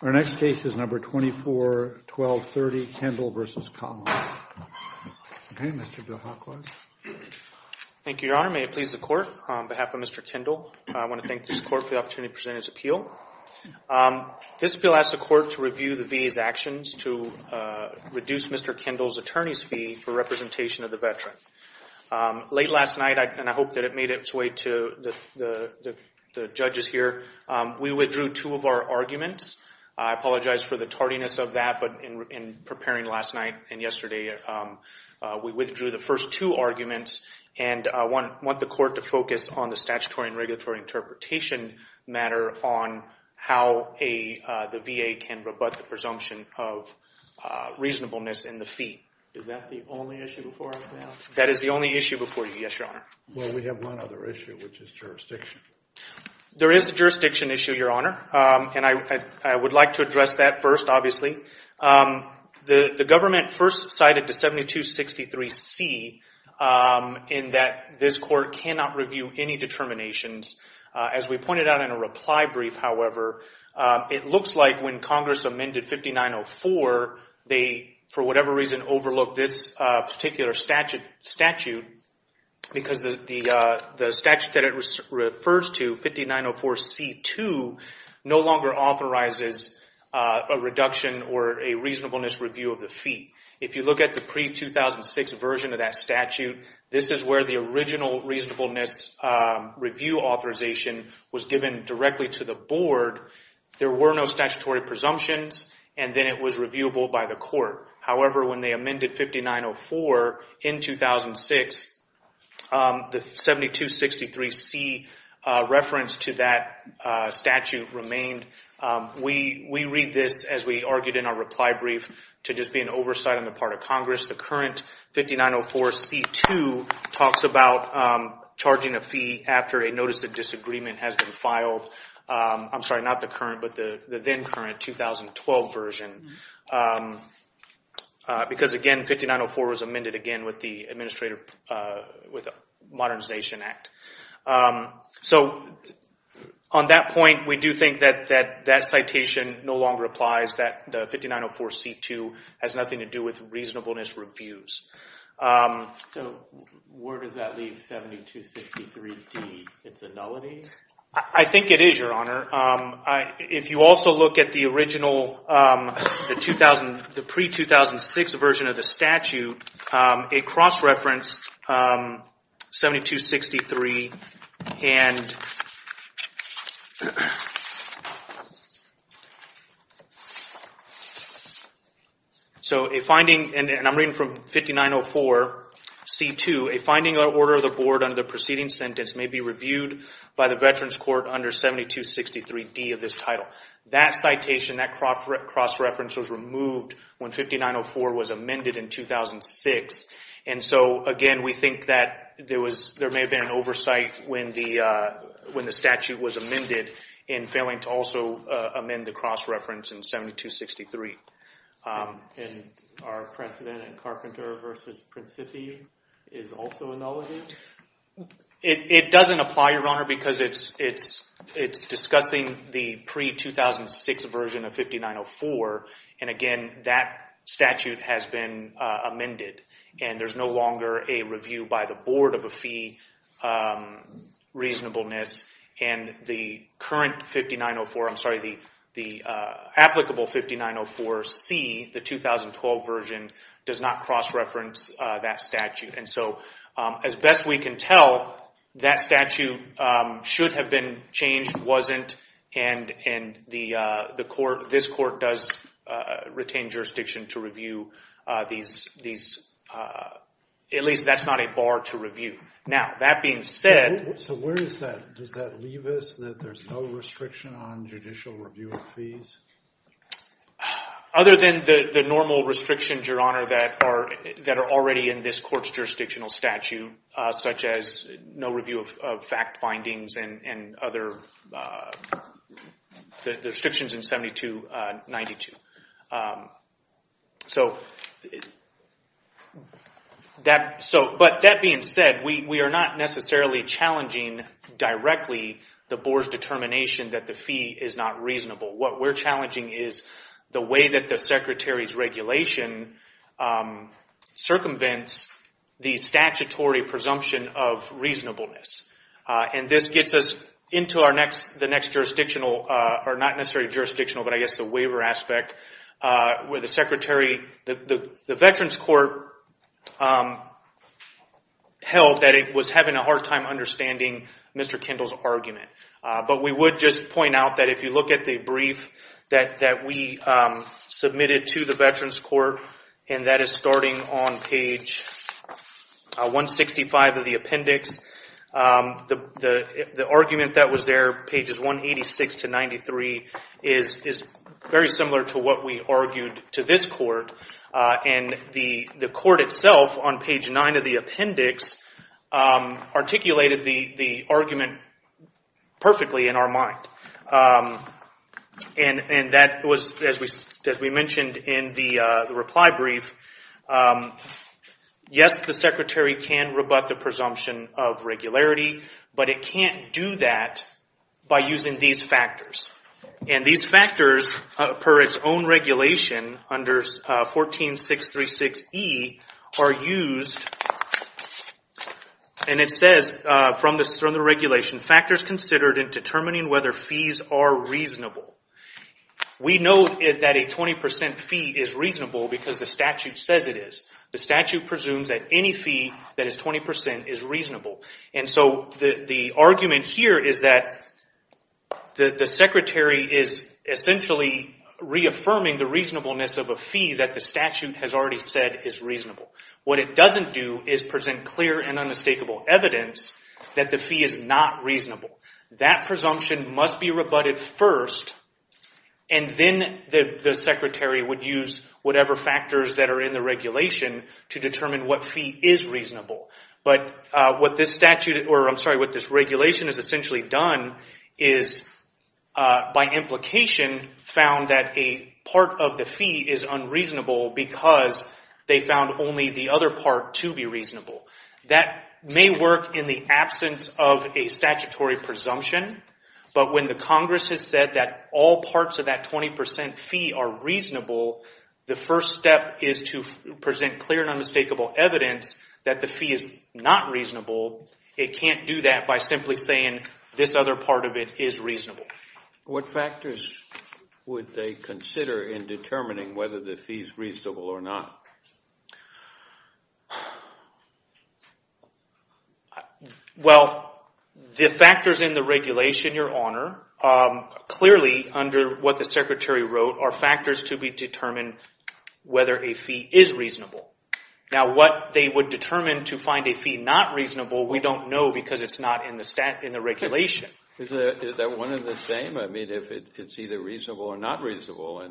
Our next case is number 24-1230, Kendall v. Collins. Okay, Mr. Delacroix. Thank you, Your Honor. May it please the Court, on behalf of Mr. Kendall, I want to thank this Court for the opportunity to present its appeal. This appeal asks the Court to review the VA's actions to reduce Mr. Kendall's attorney's fee for representation of the veteran. Late last night, and I hope that it made its way to the judges here, we withdrew two of our arguments. I apologize for the tardiness of that, but in preparing last night and yesterday, we withdrew the first two arguments, and I want the Court to focus on the statutory and regulatory interpretation matter on how the VA can rebut the presumption of reasonableness in the fee. Is that the only issue before us now? That is the only issue before you, yes, Your Honor. Well, we have one other issue, which is jurisdiction. There is a jurisdiction issue, Your Honor, and I would like to address that first, obviously. The government first cited the 7263C in that this Court cannot review any determinations. As we pointed out in a reply brief, however, it looks like when Congress amended 5904, they, for whatever reason, overlooked this particular statute because the statute that it refers to, 5904C2, no longer authorizes a reduction or a reasonableness review of the fee. If you look at the pre-2006 version of that statute, this is where the original reasonableness review authorization was given directly to the Board. There were no statutory presumptions, and then it was reviewable by the Court. However, when they amended 5904 in 2006, the 7263C reference to that statute remained. We read this, as we argued in our reply brief, to just be an oversight on the part of Congress. The current 5904C2 talks about charging a fee after a notice of disagreement has been filed. I'm sorry, not the current, but the then-current 2012 version, because, again, 5904 was amended again with the Modernization Act. On that point, we do think that that citation no longer applies, that the 5904C2 has nothing to do with reasonableness reviews. Where does that leave 7263D, it's a nullity? I think it is, Your Honor. If you also look at the original, the pre-2006 version of the statute, a cross-reference 7263, and I'm reading from 5904C2, a finding of the order of the Board under the preceding sentence, may be reviewed by the Veterans Court under 7263D of this title. That citation, that cross-reference was removed when 5904 was amended in 2006, and so, again, we think that there may have been an oversight when the statute was amended in failing to also amend the cross-reference in 7263. And our precedent in Carpenter v. Principi is also a nullity? It doesn't apply, Your Honor, because it's discussing the pre-2006 version of 5904, and, again, that statute has been amended, and there's no longer a review by the Board of the reasonableness, and the current 5904, I'm sorry, the applicable 5904C, the 2012 version, does not cross-reference that statute. And so, as best we can tell, that statute should have been changed, wasn't, and this court does retain jurisdiction to review these, at least, that's not a bar to review. Now, that being said... So where does that leave us, that there's no restriction on judicial review of fees? Other than the normal restrictions, Your Honor, that are already in this court's jurisdictional statute, such as no review of fact findings and other restrictions in 7292. But that being said, we are not necessarily challenging directly the Board's determination that the fee is not reasonable. What we're challenging is the way that the Secretary's regulation circumvents the statutory presumption of reasonableness. And this gets us into the next jurisdictional, or not necessarily jurisdictional, but I guess the waiver aspect, where the Secretary, the Veterans Court, held that it was having a hard time understanding Mr. Kendall's argument. But we would just point out that if you look at the brief that we submitted to the Veterans Court, and that is starting on page 165 of the appendix, the argument that was there, pages 186 to 93, is very similar to what we argued to this court. And the court itself, on page 9 of the appendix, articulated the argument that Mr. Kendall perfectly in our mind. And that was, as we mentioned in the reply brief, yes, the Secretary can rebut the presumption of regularity, but it can't do that by using these factors. And these factors, per its own regulation, under 14636E, are used, and it says, from the regulation, factors considered in determining whether fees are reasonable. We know that a 20% fee is reasonable because the statute says it is. The statute presumes that any fee that is 20% is reasonable. And so the argument here is that the Secretary is essentially reaffirming the reasonableness of a fee that the statute has already said is reasonable. What it doesn't do is present clear and unmistakable evidence that the fee is not reasonable. That presumption must be rebutted first, and then the Secretary would use whatever factors that are in the regulation to determine what fee is reasonable. But what this regulation has essentially done is, by implication, found that a part of the fee is reasonable, and only the other part to be reasonable. That may work in the absence of a statutory presumption, but when the Congress has said that all parts of that 20% fee are reasonable, the first step is to present clear and unmistakable evidence that the fee is not reasonable. It can't do that by simply saying this other part of it is reasonable. What factors would they consider in determining whether the fee is reasonable or not? Well, the factors in the regulation, Your Honor, clearly under what the Secretary wrote are factors to determine whether a fee is reasonable. Now what they would determine to find a fee not reasonable, we don't know because it's not in the regulation. Is that one and the same? I mean, if it's either reasonable or not reasonable?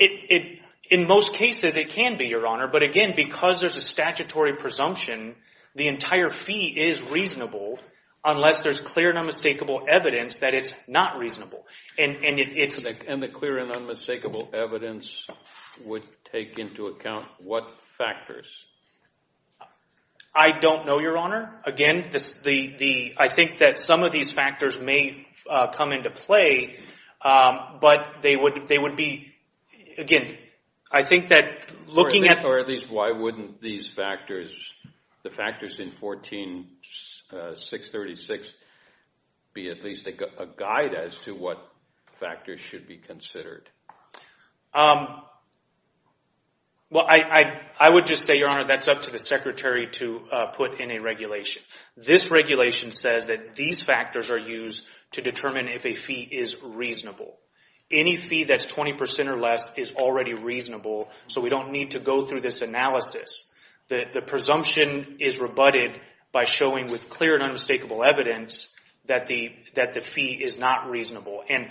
In most cases, it can be, Your Honor, but again, because there's a statutory presumption, the entire fee is reasonable unless there's clear and unmistakable evidence that it's not reasonable. And the clear and unmistakable evidence would take into account what factors? I don't know, Your Honor. Again, I think that some of these factors may come into play, but they would be, again, I think that looking at... Or at least why wouldn't these factors, the factors in 14636, be at least a guide as to what factors should be considered? Well, I would just say, Your Honor, that's up to the Secretary to put in a regulation. This regulation says that these factors are used to determine if a fee is reasonable. Any fee that's 20% or less is already reasonable, so we don't need to go through this analysis. The presumption is rebutted by showing with clear and unmistakable evidence that the fee is not reasonable. And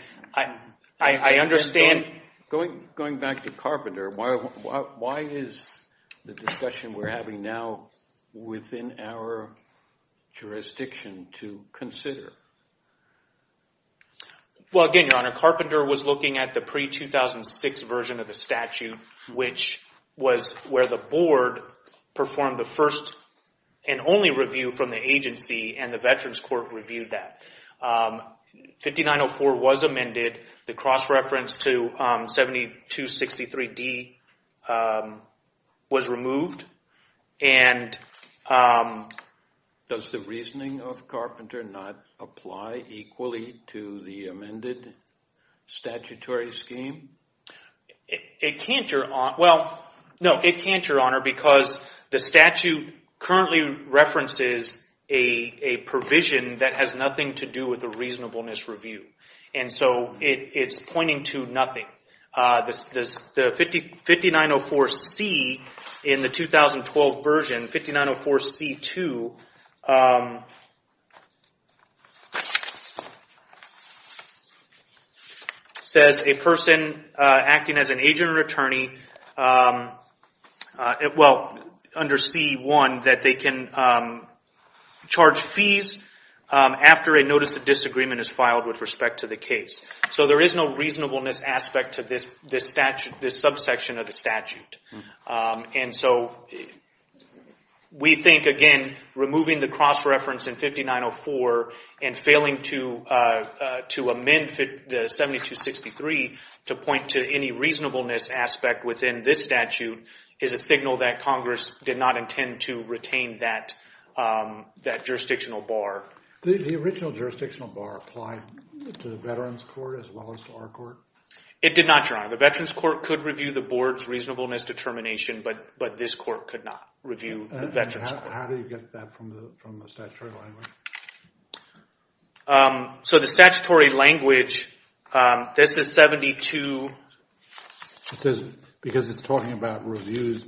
I understand... Going back to Carpenter, why is the discussion we're having now within our jurisdiction to consider? Well, again, Your Honor, Carpenter was looking at the pre-2006 version of the statute, which was where the board performed the first and only review from the agency, and the Veterans Court reviewed that. 5904 was amended. The cross-reference to 7263D was removed. Does the reasoning of Carpenter not apply equally to the amended statutory scheme? It can't, Your Honor, because the statute currently references a provision that has nothing to do with a reasonableness review, and so it's pointing to nothing. The 5904C in the 2012 version, 5904C-2, says a person acting as an agent or attorney, well, under C-1, that they can charge fees after a notice of disagreement is filed with respect to the case. So there is no reasonableness aspect to this subsection of the statute. We think, again, removing the cross-reference in 5904 and failing to amend the 7263 to point to any reasonableness aspect within this statute is a signal that Congress did not intend to retain that jurisdictional bar. The original jurisdictional bar applied to the Veterans Court as well as to our court? It did not, Your Honor. The Veterans Court could review the board's reasonableness determination, but this court could not review the Veterans Court. How do you get that from the statutory language? So the statutory language, this is 72... Because it's talking about reviews,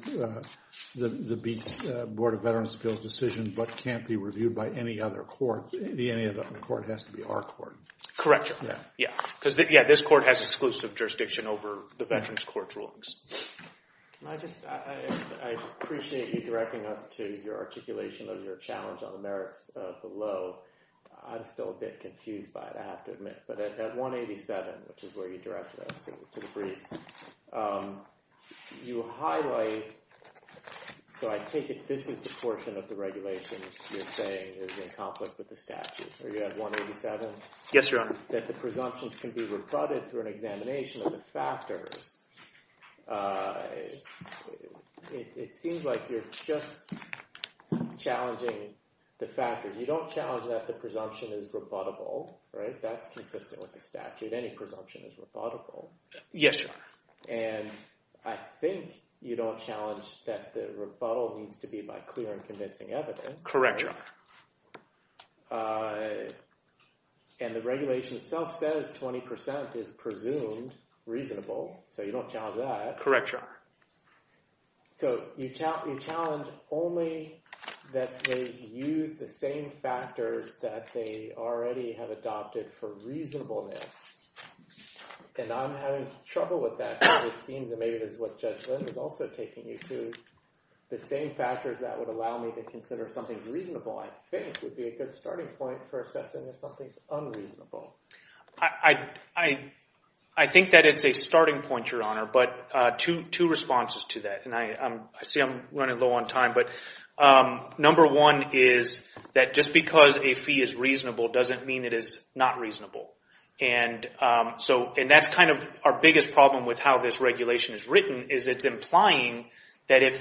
the Board of Veterans Appeals decision, but can't be reviewed by any other court. Any other court has to be our court. Correct, Your Honor. Yeah, because this court has exclusive jurisdiction over the Veterans Court's rulings. I appreciate you directing us to your articulation of your challenge on the merits of the law. I'm still a bit confused by that, I have to admit. But at 187, which is where you directed us to the briefs, you highlight... So I take it this is the portion of the regulation you're saying is in conflict with the statute. Are you at 187? Yes, Your Honor. That the presumptions can be rebutted through an examination of the factors. It seems like you're just challenging the factors. You don't challenge that the presumption is rebuttable, right? That's consistent with the statute, any presumption is rebuttable. Yes, Your Honor. And I think you don't challenge that the rebuttal needs to be by clear and convincing evidence. Correct, Your Honor. And the regulation itself says 20% is presumed reasonable, so you don't challenge that. Correct, Your Honor. So you challenge only that they use the same factors that they already have adopted for reasonableness. And I'm having trouble with that because it seems that maybe this is what Judge Lind is also taking you to. The same factors that would allow me to consider something reasonable, I think, would be a good starting point for assessing if something's unreasonable. I think that it's a starting point, Your Honor, but two responses to that. And I see I'm running low on time, but number one is that just because a fee is reasonable doesn't mean it is not reasonable. And that's kind of our biggest problem with how this regulation is written, is it's implying that if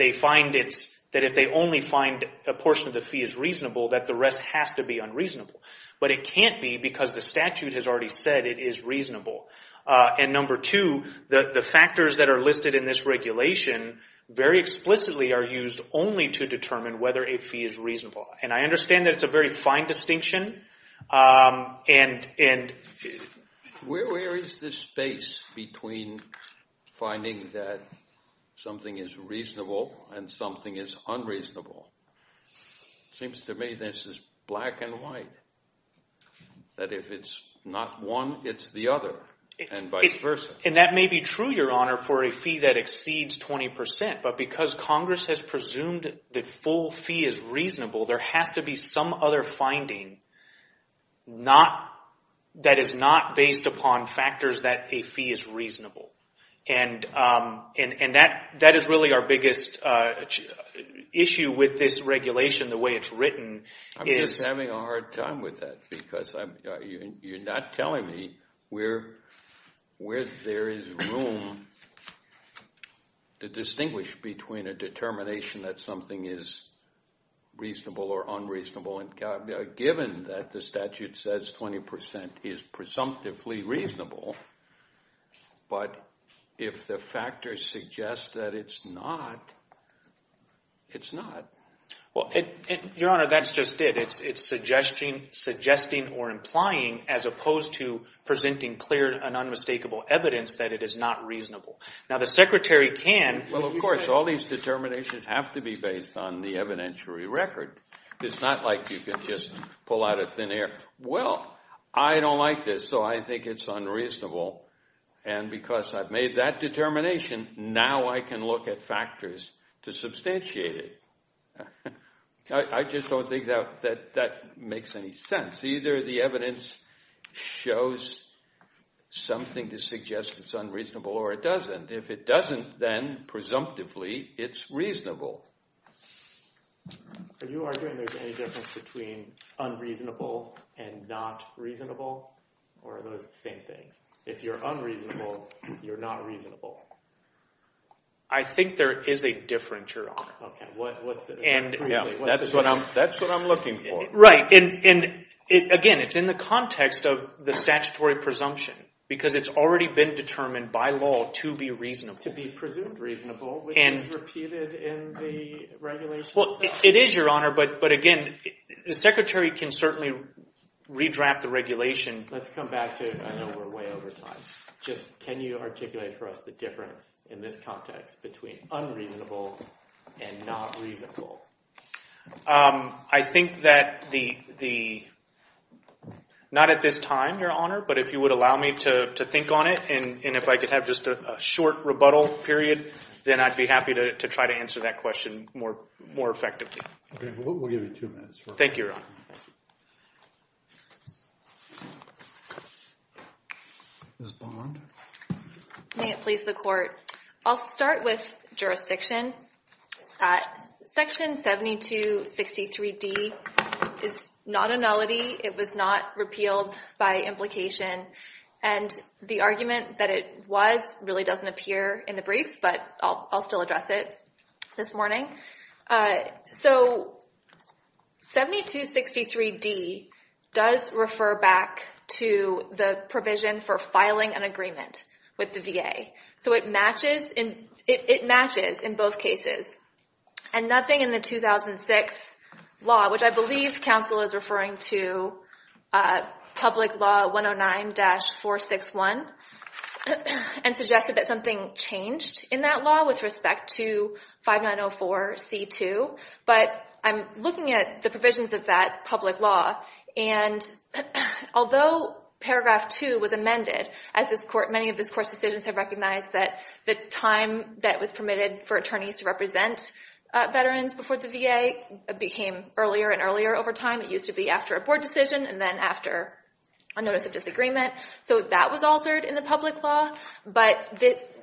they only find a portion of the fee is reasonable, that the rest has to be unreasonable. But it can't be because the statute has already said it is reasonable. And number two, the factors that are listed in this regulation very explicitly are used only to determine whether a fee is reasonable. And I understand that it's a very fine distinction. Where is this space between finding that something is reasonable and something is unreasonable? It seems to me this is black and white, that if it's not one, it's the other, and vice versa. And that may be true, Your Honor, for a fee that exceeds 20%, but because Congress has presumed the full fee is reasonable, there has to be some other finding that is not based upon factors that a fee is reasonable. And that is really our biggest issue with this regulation, the way it's written. I'm just having a hard time with that because you're not telling me where there is room to distinguish between a determination that something is reasonable or unreasonable. Given that the statute says 20% is presumptively reasonable, but if the factors suggest that it's not, it's not. Well, Your Honor, that's just it. It's suggesting or implying as opposed to presenting clear and unmistakable evidence that it is not reasonable. Now, the Secretary can... Well, of course, all these determinations have to be based on the evidentiary record. It's not like you can just pull out a thin air. Well, I don't like this, so I think it's unreasonable. And because I've made that determination, now I can look at factors to substantiate it. I just don't think that that makes any sense. Either the evidence shows something to suggest it's unreasonable or it doesn't. If it doesn't, then presumptively it's reasonable. Are you arguing there's any difference between unreasonable and not reasonable, or are those the same things? If you're unreasonable, you're not reasonable. I think there is a difference, Your Honor. Okay, what's the difference? That's what I'm looking for. Right, and again, it's in the context of the statutory presumption, because it's already been determined by law to be reasonable. It's to be presumed reasonable, which is repeated in the regulation itself. It is, Your Honor, but again, the Secretary can certainly redraft the regulation. Let's come back to, I know we're way over time. Can you articulate for us the difference in this context between unreasonable and not reasonable? I think that the... Not at this time, Your Honor, but if you would allow me to think on it, and if I could have just a short rebuttal period, then I'd be happy to try to answer that question more effectively. Okay, we'll give you two minutes. Thank you, Your Honor. Ms. Bond? May it please the Court. I'll start with jurisdiction. Section 7263D is not a nullity. It was not repealed by implication. And the argument that it was really doesn't appear in the briefs, but I'll still address it this morning. So 7263D does refer back to the provision for filing an agreement with the VA. So it matches in both cases. And nothing in the 2006 law, which I believe counsel is referring to, Public Law 109-461, and suggested that something changed in that law with respect to 5904C2. But I'm looking at the provisions of that public law, and although Paragraph 2 was amended, as many of this Court's decisions have recognized, that the time that was permitted for attorneys to represent veterans before the VA became earlier and earlier over time. It used to be after a board decision and then after a notice of disagreement. So that was altered in the public law. But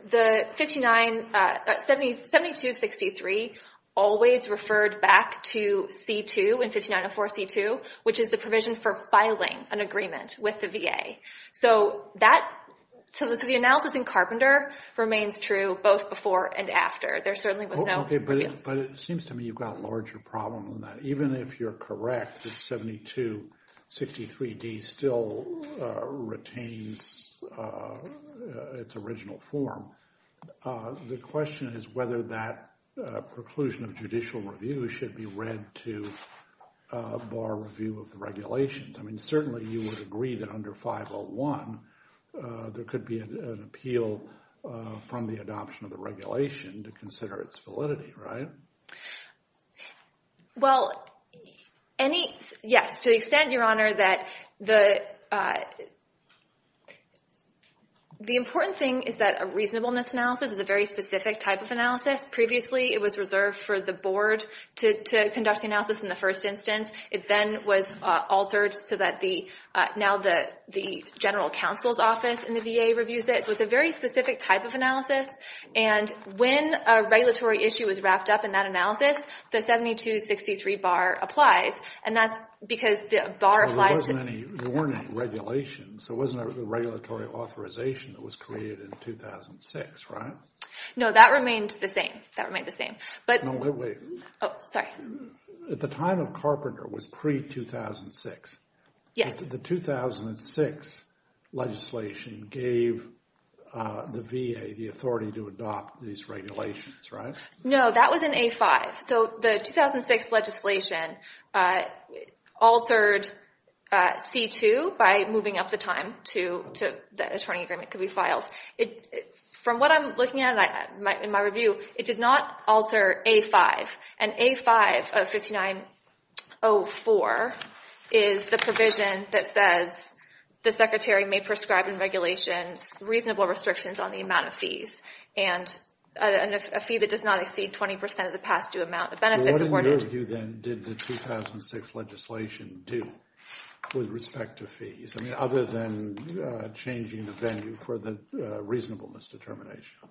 7263 always referred back to C2 and 5904C2, which is the provision for filing an agreement with the VA. So the analysis in Carpenter remains true both before and after. There certainly was no review. But it seems to me you've got a larger problem than that. Even if you're correct that 7263D still retains its original form, the question is whether that preclusion of judicial review should be read to bar review of the regulations. I mean, certainly you would agree that under 501 there could be an appeal from the adoption of the regulation to consider its validity, right? Well, yes, to the extent, Your Honor, that the important thing is that a reasonableness analysis is a very specific type of analysis. Previously it was reserved for the board to conduct the analysis in the first instance. It then was altered so that now the general counsel's office in the VA reviews it. So it's a very specific type of analysis. And when a regulatory issue is wrapped up in that analysis, the 7263 bar applies. And that's because the bar applies to the VA. There weren't any regulations. There wasn't a regulatory authorization that was created in 2006, right? No, that remained the same. That remained the same. No, wait, wait. Oh, sorry. At the time of Carpenter was pre-2006. Yes. The 2006 legislation gave the VA the authority to adopt these regulations, right? No, that was in A-5. So the 2006 legislation altered C-2 by moving up the time to the attorney agreement could be filed. From what I'm looking at in my review, it did not alter A-5. And A-5 of 5904 is the provision that says the secretary may prescribe in regulations reasonable restrictions on the amount of fees. And a fee that does not exceed 20 percent of the past due amount. What in your review, then, did the 2006 legislation do with respect to fees? I mean, other than changing the venue for the reasonableness determination.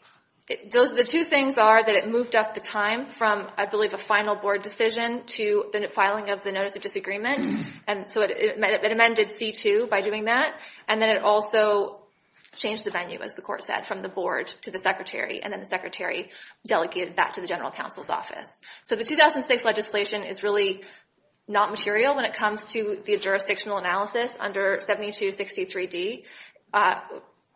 The two things are that it moved up the time from, I believe, a final board decision to the filing of the notice of disagreement. And so it amended C-2 by doing that. And then it also changed the venue, as the court said, from the board to the secretary. And then the secretary delegated that to the general counsel's office. So the 2006 legislation is really not material when it comes to the jurisdictional analysis under 7263D.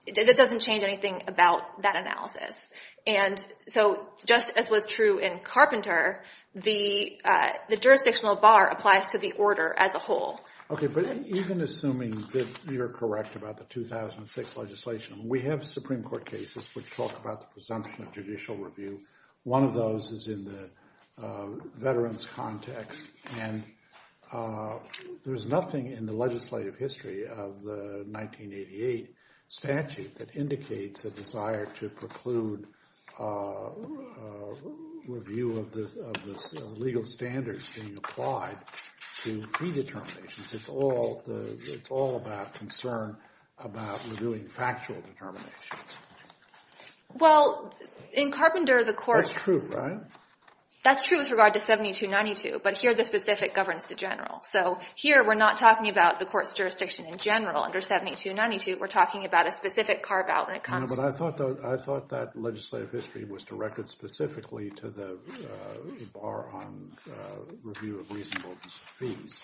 It doesn't change anything about that analysis. And so just as was true in Carpenter, the jurisdictional bar applies to the order as a whole. Okay, but even assuming that you're correct about the 2006 legislation, we have Supreme Court cases which talk about the presumption of judicial review. One of those is in the veterans context. And there's nothing in the legislative history of the 1988 statute that indicates a desire to preclude review of the legal standards being applied to fee determinations. It's all about concern about reviewing factual determinations. Well, in Carpenter, the court— That's true, right? That's true with regard to 7292, but here the specific governs the general. So here we're not talking about the court's jurisdiction in general under 7292. We're talking about a specific carve-out when it comes to— No, but I thought that legislative history was directed specifically to the bar on review of reasonable fees.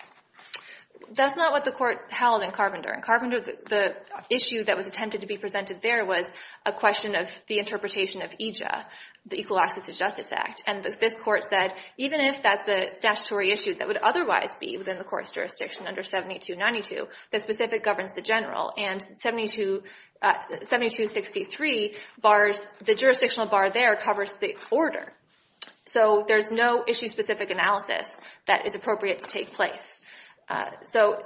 That's not what the court held in Carpenter. In Carpenter, the issue that was attempted to be presented there was a question of the interpretation of EJA, the Equal Access to Justice Act. And this court said, even if that's a statutory issue that would otherwise be within the court's jurisdiction under 7292, the specific governs the general. And 7263 bars—the jurisdictional bar there covers the order. So there's no issue-specific analysis that is appropriate to take place. So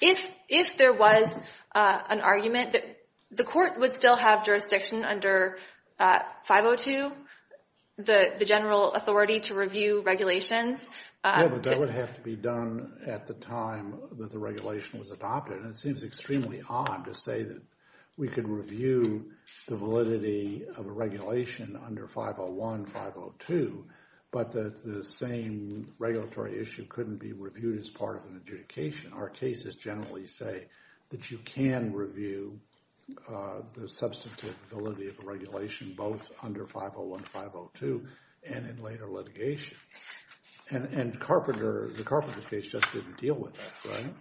if there was an argument that the court would still have jurisdiction under 502, the general authority to review regulations— Yeah, but that would have to be done at the time that the regulation was adopted. And it seems extremely odd to say that we could review the validity of a regulation under 501, 502, but that the same regulatory issue couldn't be reviewed as part of an adjudication. Our cases generally say that you can review the substantive validity of a regulation both under 501, 502 and in later litigation. And Carpenter—the Carpenter case just didn't deal with that, right?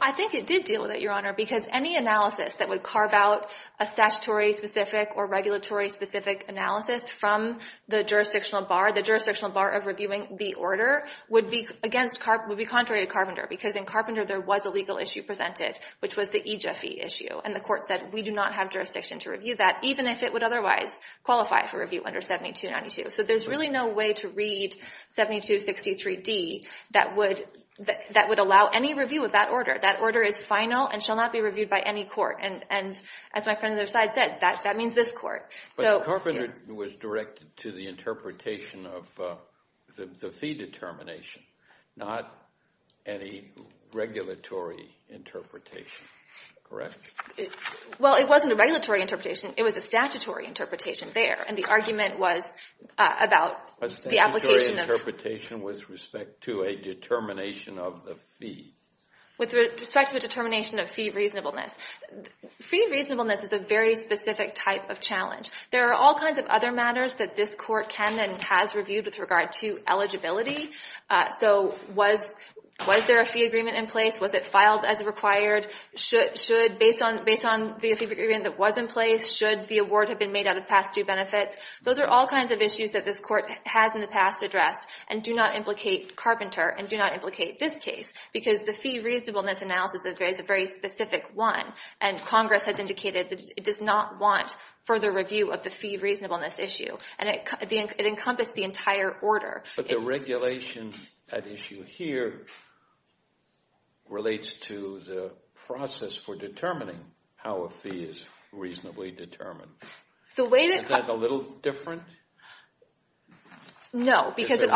I think it did deal with it, Your Honor, because any analysis that would carve out a statutory-specific or regulatory-specific analysis from the jurisdictional bar— the jurisdictional bar of reviewing the order—would be contrary to Carpenter. Because in Carpenter, there was a legal issue presented, which was the EJA fee issue. And the court said, we do not have jurisdiction to review that, even if it would otherwise qualify for review under 7292. So there's really no way to read 7263D that would allow any review of that order. That order is final and shall not be reviewed by any court. And as my friend on the other side said, that means this court. But Carpenter was directed to the interpretation of the fee determination, not any regulatory interpretation, correct? Well, it wasn't a regulatory interpretation. It was a statutory interpretation there. And the argument was about the application of— A statutory interpretation with respect to a determination of the fee. With respect to a determination of fee reasonableness. Fee reasonableness is a very specific type of challenge. There are all kinds of other matters that this court can and has reviewed with regard to eligibility. So was there a fee agreement in place? Was it filed as required? Based on the fee agreement that was in place, should the award have been made out of past due benefits? Those are all kinds of issues that this court has in the past addressed. And do not implicate Carpenter. And do not implicate this case. Because the fee reasonableness analysis is a very specific one. And Congress has indicated that it does not want further review of the fee reasonableness issue. And it encompassed the entire order. But the regulation at issue here relates to the process for determining how a fee is reasonably determined. Is that a little different? No. The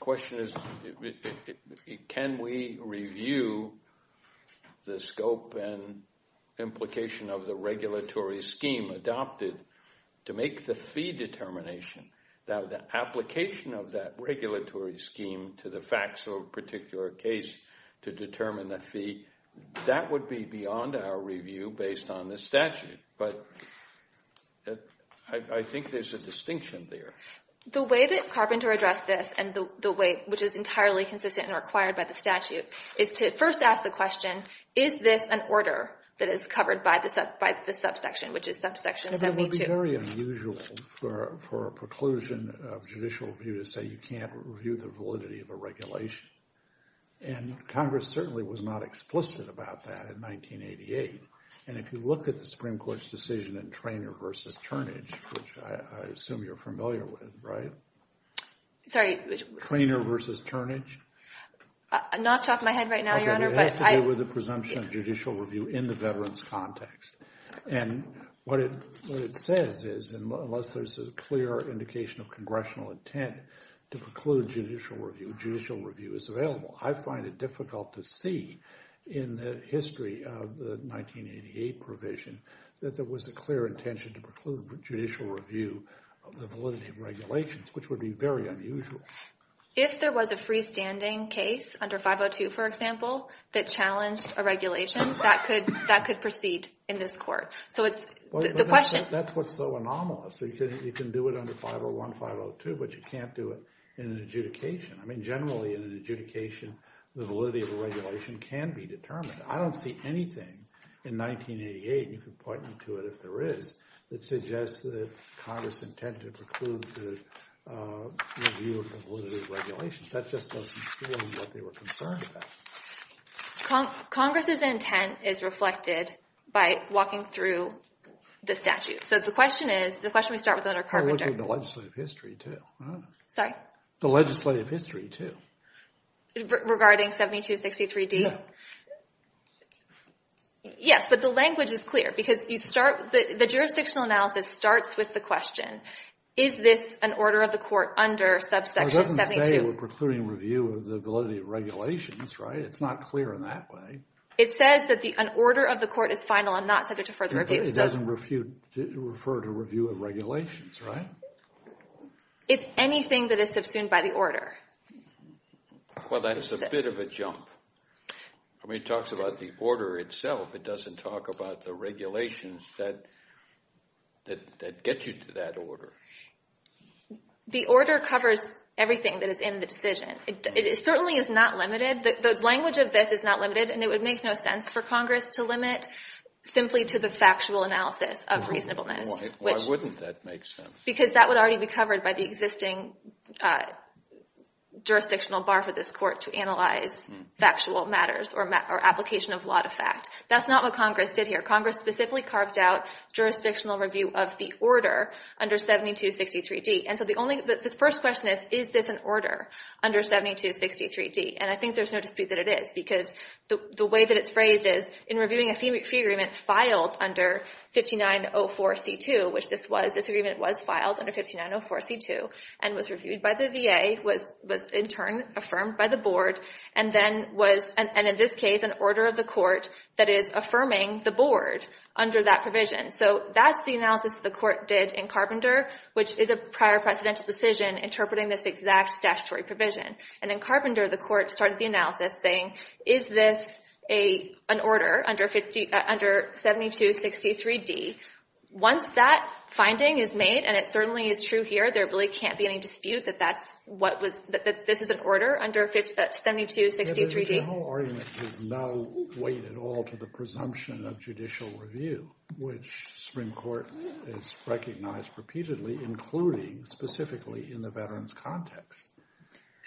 question is, can we review the scope and implication of the regulatory scheme adopted to make the fee determination? The application of that regulatory scheme to the facts of a particular case to determine the fee, that would be beyond our review based on the statute. But I think there's a distinction there. The way that Carpenter addressed this, which is entirely consistent and required by the statute, is to first ask the question, is this an order that is covered by the subsection, which is subsection 72? It would be very unusual for a preclusion of judicial review to say you can't review the validity of a regulation. And Congress certainly was not explicit about that in 1988. And if you look at the Supreme Court's decision in Traynor versus Turnage, which I assume you're familiar with, right? Sorry. Traynor versus Turnage. I'm not talking my head right now, Your Honor. It has to do with the presumption of judicial review in the veterans context. And what it says is, unless there's a clear indication of congressional intent to preclude judicial review, judicial review is available. I find it difficult to see in the history of the 1988 provision that there was a clear intention to preclude judicial review of the validity of regulations, which would be very unusual. If there was a freestanding case under 502, for example, that challenged a regulation, that could proceed in this court. So it's the question— That's what's so anomalous. You can do it under 501, 502, but you can't do it in an adjudication. I mean generally in an adjudication, the validity of a regulation can be determined. I don't see anything in 1988, and you can point me to it if there is, that suggests that Congress intended to preclude the review of the validity of regulations. That just doesn't feel like they were concerned about it. Congress's intent is reflected by walking through the statute. So the question is—the question we start with under Carpenter— I'm looking at the legislative history too. Sorry? Yeah. The legislative history too. Regarding 7263D? Yeah. Yes, but the language is clear because you start—the jurisdictional analysis starts with the question, is this an order of the court under subsection 72? It doesn't say we're precluding review of the validity of regulations, right? It's not clear in that way. It says that an order of the court is final and not subject to further review. It doesn't refer to review of regulations, right? It's anything that is subsumed by the order. Well, that's a bit of a jump. I mean, it talks about the order itself. It doesn't talk about the regulations that get you to that order. The order covers everything that is in the decision. It certainly is not limited. The language of this is not limited, and it would make no sense for Congress to limit simply to the factual analysis of reasonableness. Why wouldn't that make sense? Because that would already be covered by the existing jurisdictional bar for this court to analyze factual matters or application of lot of fact. That's not what Congress did here. Congress specifically carved out jurisdictional review of the order under 7263D. And so the first question is, is this an order under 7263D? And I think there's no dispute that it is, because the way that it's phrased is in reviewing a fee agreement filed under 5904C2, which this agreement was filed under 5904C2 and was reviewed by the VA, was in turn affirmed by the board, and then was, in this case, an order of the court that is affirming the board under that provision. So that's the analysis the court did in Carpenter, which is a prior precedential decision interpreting this exact statutory provision. And then Carpenter, the court, started the analysis saying, is this an order under 7263D? Once that finding is made, and it certainly is true here, there really can't be any dispute that this is an order under 7263D. The general argument gives no weight at all to the presumption of judicial review, which Supreme Court has recognized repeatedly, including specifically in the veterans' context.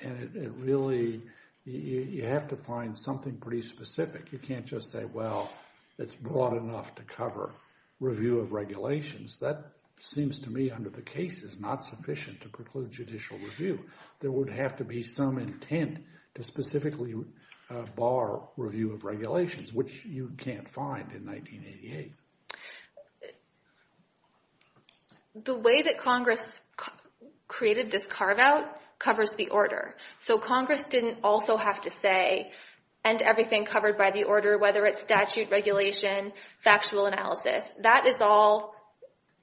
And it really, you have to find something pretty specific. You can't just say, well, it's broad enough to cover review of regulations. That seems to me, under the case, is not sufficient to preclude judicial review. There would have to be some intent to specifically bar review of regulations, which you can't find in 1988. The way that Congress created this carve-out covers the order. So Congress didn't also have to say, and everything covered by the order, whether it's statute, regulation, factual analysis, that is all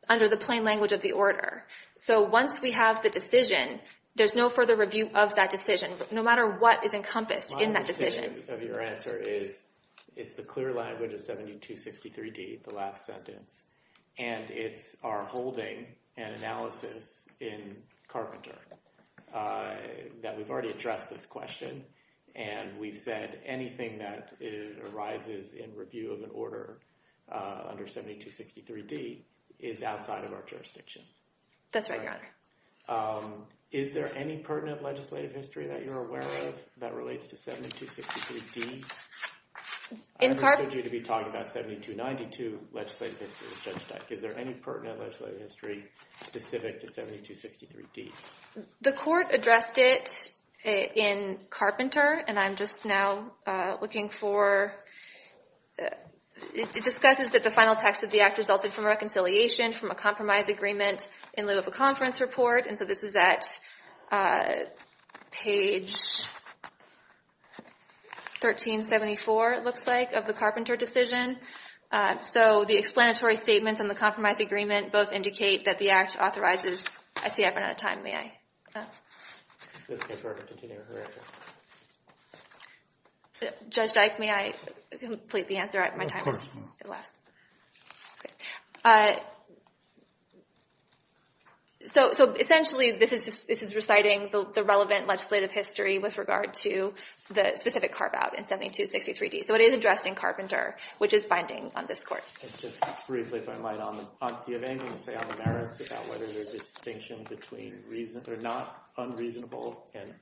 under the plain language of the order. So once we have the decision, there's no further review of that decision, no matter what is encompassed in that decision. My opinion of your answer is, it's the clear language of 7263D, the last sentence, and it's our holding and analysis in Carpenter that we've already addressed this question, and we've said anything that arises in review of an order under 7263D is outside of our jurisdiction. That's right, Your Honor. Is there any pertinent legislative history that you're aware of that relates to 7263D? I understood you to be talking about 7292 legislative history as Judge Dyck. Is there any pertinent legislative history specific to 7263D? The Court addressed it in Carpenter, and I'm just now looking for— it discusses that the final text of the Act resulted from reconciliation from a compromise agreement in lieu of a conference report, and so this is at page 1374, it looks like, of the Carpenter decision. So the explanatory statements and the compromise agreement both indicate that the Act authorizes— I see I've run out of time. May I? It's okay for her to continue her answer. Judge Dyck, may I complete the answer at my time? Of course. Essentially, this is reciting the relevant legislative history with regard to the specific carve-out in 7263D. So it is addressed in Carpenter, which is binding on this Court. Just briefly, if I might, do you have anything to say on the merits about whether there's a distinction between not reasonable and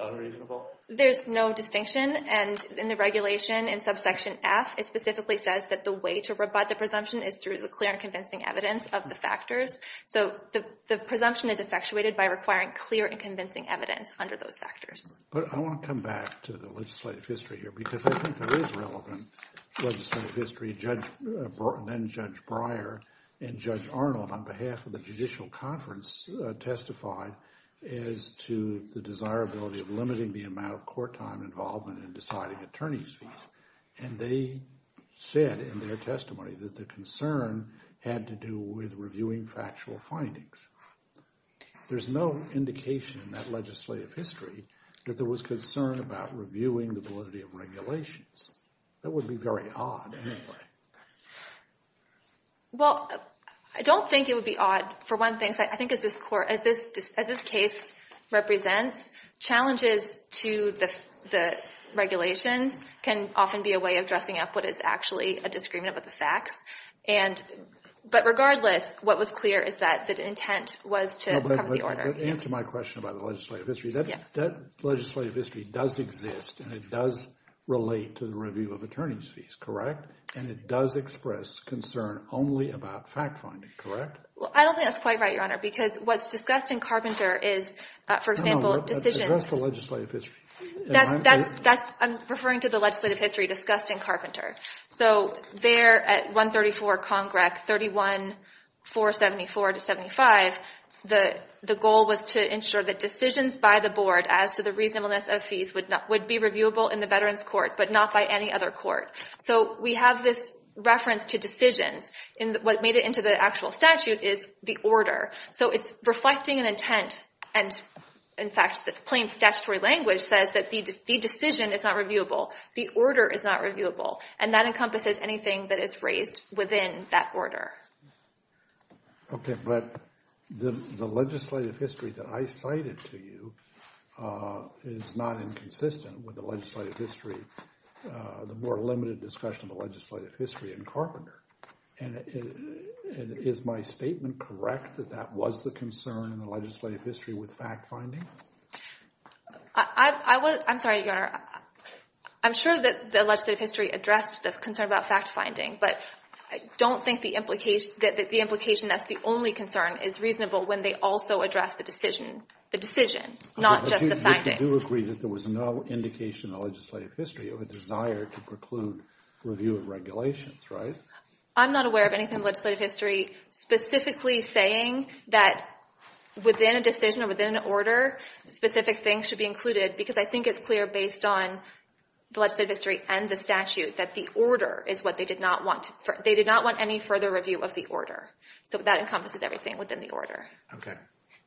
unreasonable? There's no distinction, and in the regulation in subsection F, it specifically says that the way to rebut the presumption is through the clear and convincing evidence of the factors. So the presumption is effectuated by requiring clear and convincing evidence under those factors. But I want to come back to the legislative history here because I think there is relevant legislative history. Judge—then-Judge Breyer and Judge Arnold, on behalf of the Judicial Conference, testified as to the desirability of limiting the amount of court-time involvement in deciding attorney's fees, and they said in their testimony that the concern had to do with reviewing factual findings. There's no indication in that legislative history that there was concern about reviewing the validity of regulations. That would be very odd anyway. Well, I don't think it would be odd. For one thing, I think as this case represents, challenges to the regulations can often be a way of dressing up what is actually a disagreement with the facts. But regardless, what was clear is that the intent was to cover the order. Answer my question about the legislative history. That legislative history does exist, and it does relate to the review of attorney's fees, correct? And it does express concern only about fact-finding, correct? Well, I don't think that's quite right, Your Honor, because what's discussed in Carpenter is, for example, decisions— No, no, address the legislative history. I'm referring to the legislative history discussed in Carpenter. So there at 134 Congrec, 31474-75, the goal was to ensure that decisions by the board as to the reasonableness of fees would be reviewable in the Veterans Court, but not by any other court. So we have this reference to decisions, and what made it into the actual statute is the order. So it's reflecting an intent, and in fact, this plain statutory language says that the decision is not reviewable. The order is not reviewable, and that encompasses anything that is raised within that order. Okay, but the legislative history that I cited to you is not inconsistent with the legislative history, the more limited discussion of the legislative history in Carpenter. And is my statement correct that that was the concern in the legislative history with fact-finding? I'm sorry, Your Honor. I'm sure that the legislative history addressed the concern about fact-finding, but I don't think the implication that's the only concern is reasonable when they also address the decision, the decision, not just the fact-finding. But you do agree that there was no indication in the legislative history of a desire to preclude review of regulations, right? I'm not aware of anything in the legislative history specifically saying that within a decision or within an order, specific things should be included, because I think it's clear based on the legislative history and the statute that the order is what they did not want. They did not want any further review of the order, so that encompasses everything within the order. Okay.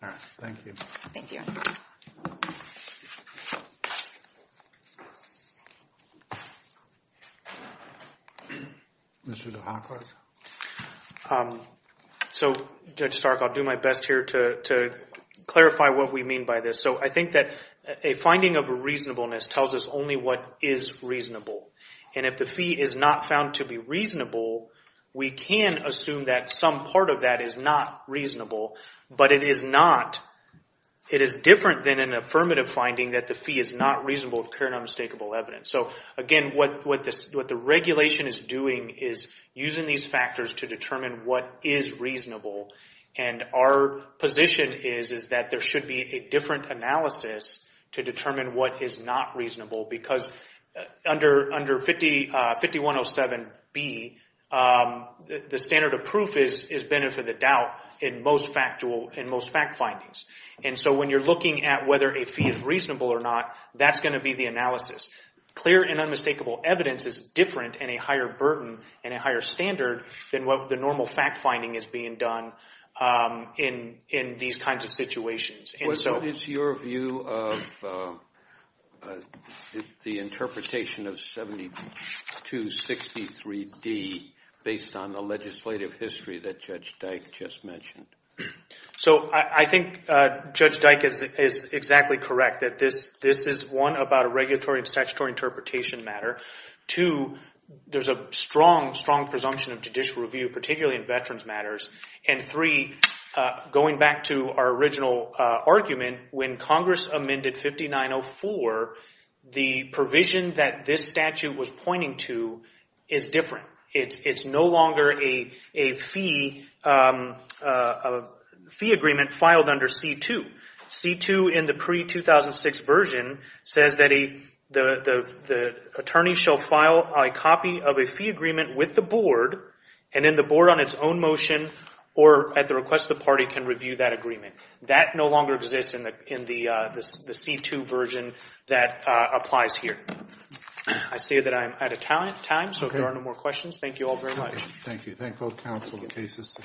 All right. Thank you. Thank you, Your Honor. Mr. DeHackler? So, Judge Stark, I'll do my best here to clarify what we mean by this. So I think that a finding of reasonableness tells us only what is reasonable, and if the fee is not found to be reasonable, we can assume that some part of that is not reasonable, but it is not. It is different than an affirmative finding that the fee is not reasonable with clear and unmistakable evidence. So, again, what the regulation is doing is using these factors to determine what is reasonable, and our position is that there should be a different analysis to determine what is not reasonable, because under 5107B, the standard of proof is benefit of the doubt in most fact findings, and so when you're looking at whether a fee is reasonable or not, that's going to be the analysis. Clear and unmistakable evidence is different and a higher burden and a higher standard than what the normal fact finding is being done in these kinds of situations. What is your view of the interpretation of 7263D based on the legislative history that Judge Dyke just mentioned? So I think Judge Dyke is exactly correct. This is, one, about a regulatory and statutory interpretation matter. Two, there's a strong, strong presumption of judicial review, particularly in veterans' matters. And three, going back to our original argument, when Congress amended 5904, the provision that this statute was pointing to is different. It's no longer a fee agreement filed under C-2. C-2 in the pre-2006 version says that the attorney shall file a copy of a fee agreement with the board, and then the board on its own motion or at the request of the party can review that agreement. That no longer exists in the C-2 version that applies here. I say that I am out of time, so if there are no more questions, thank you all very much. Thank you. Thank both counsel and cases.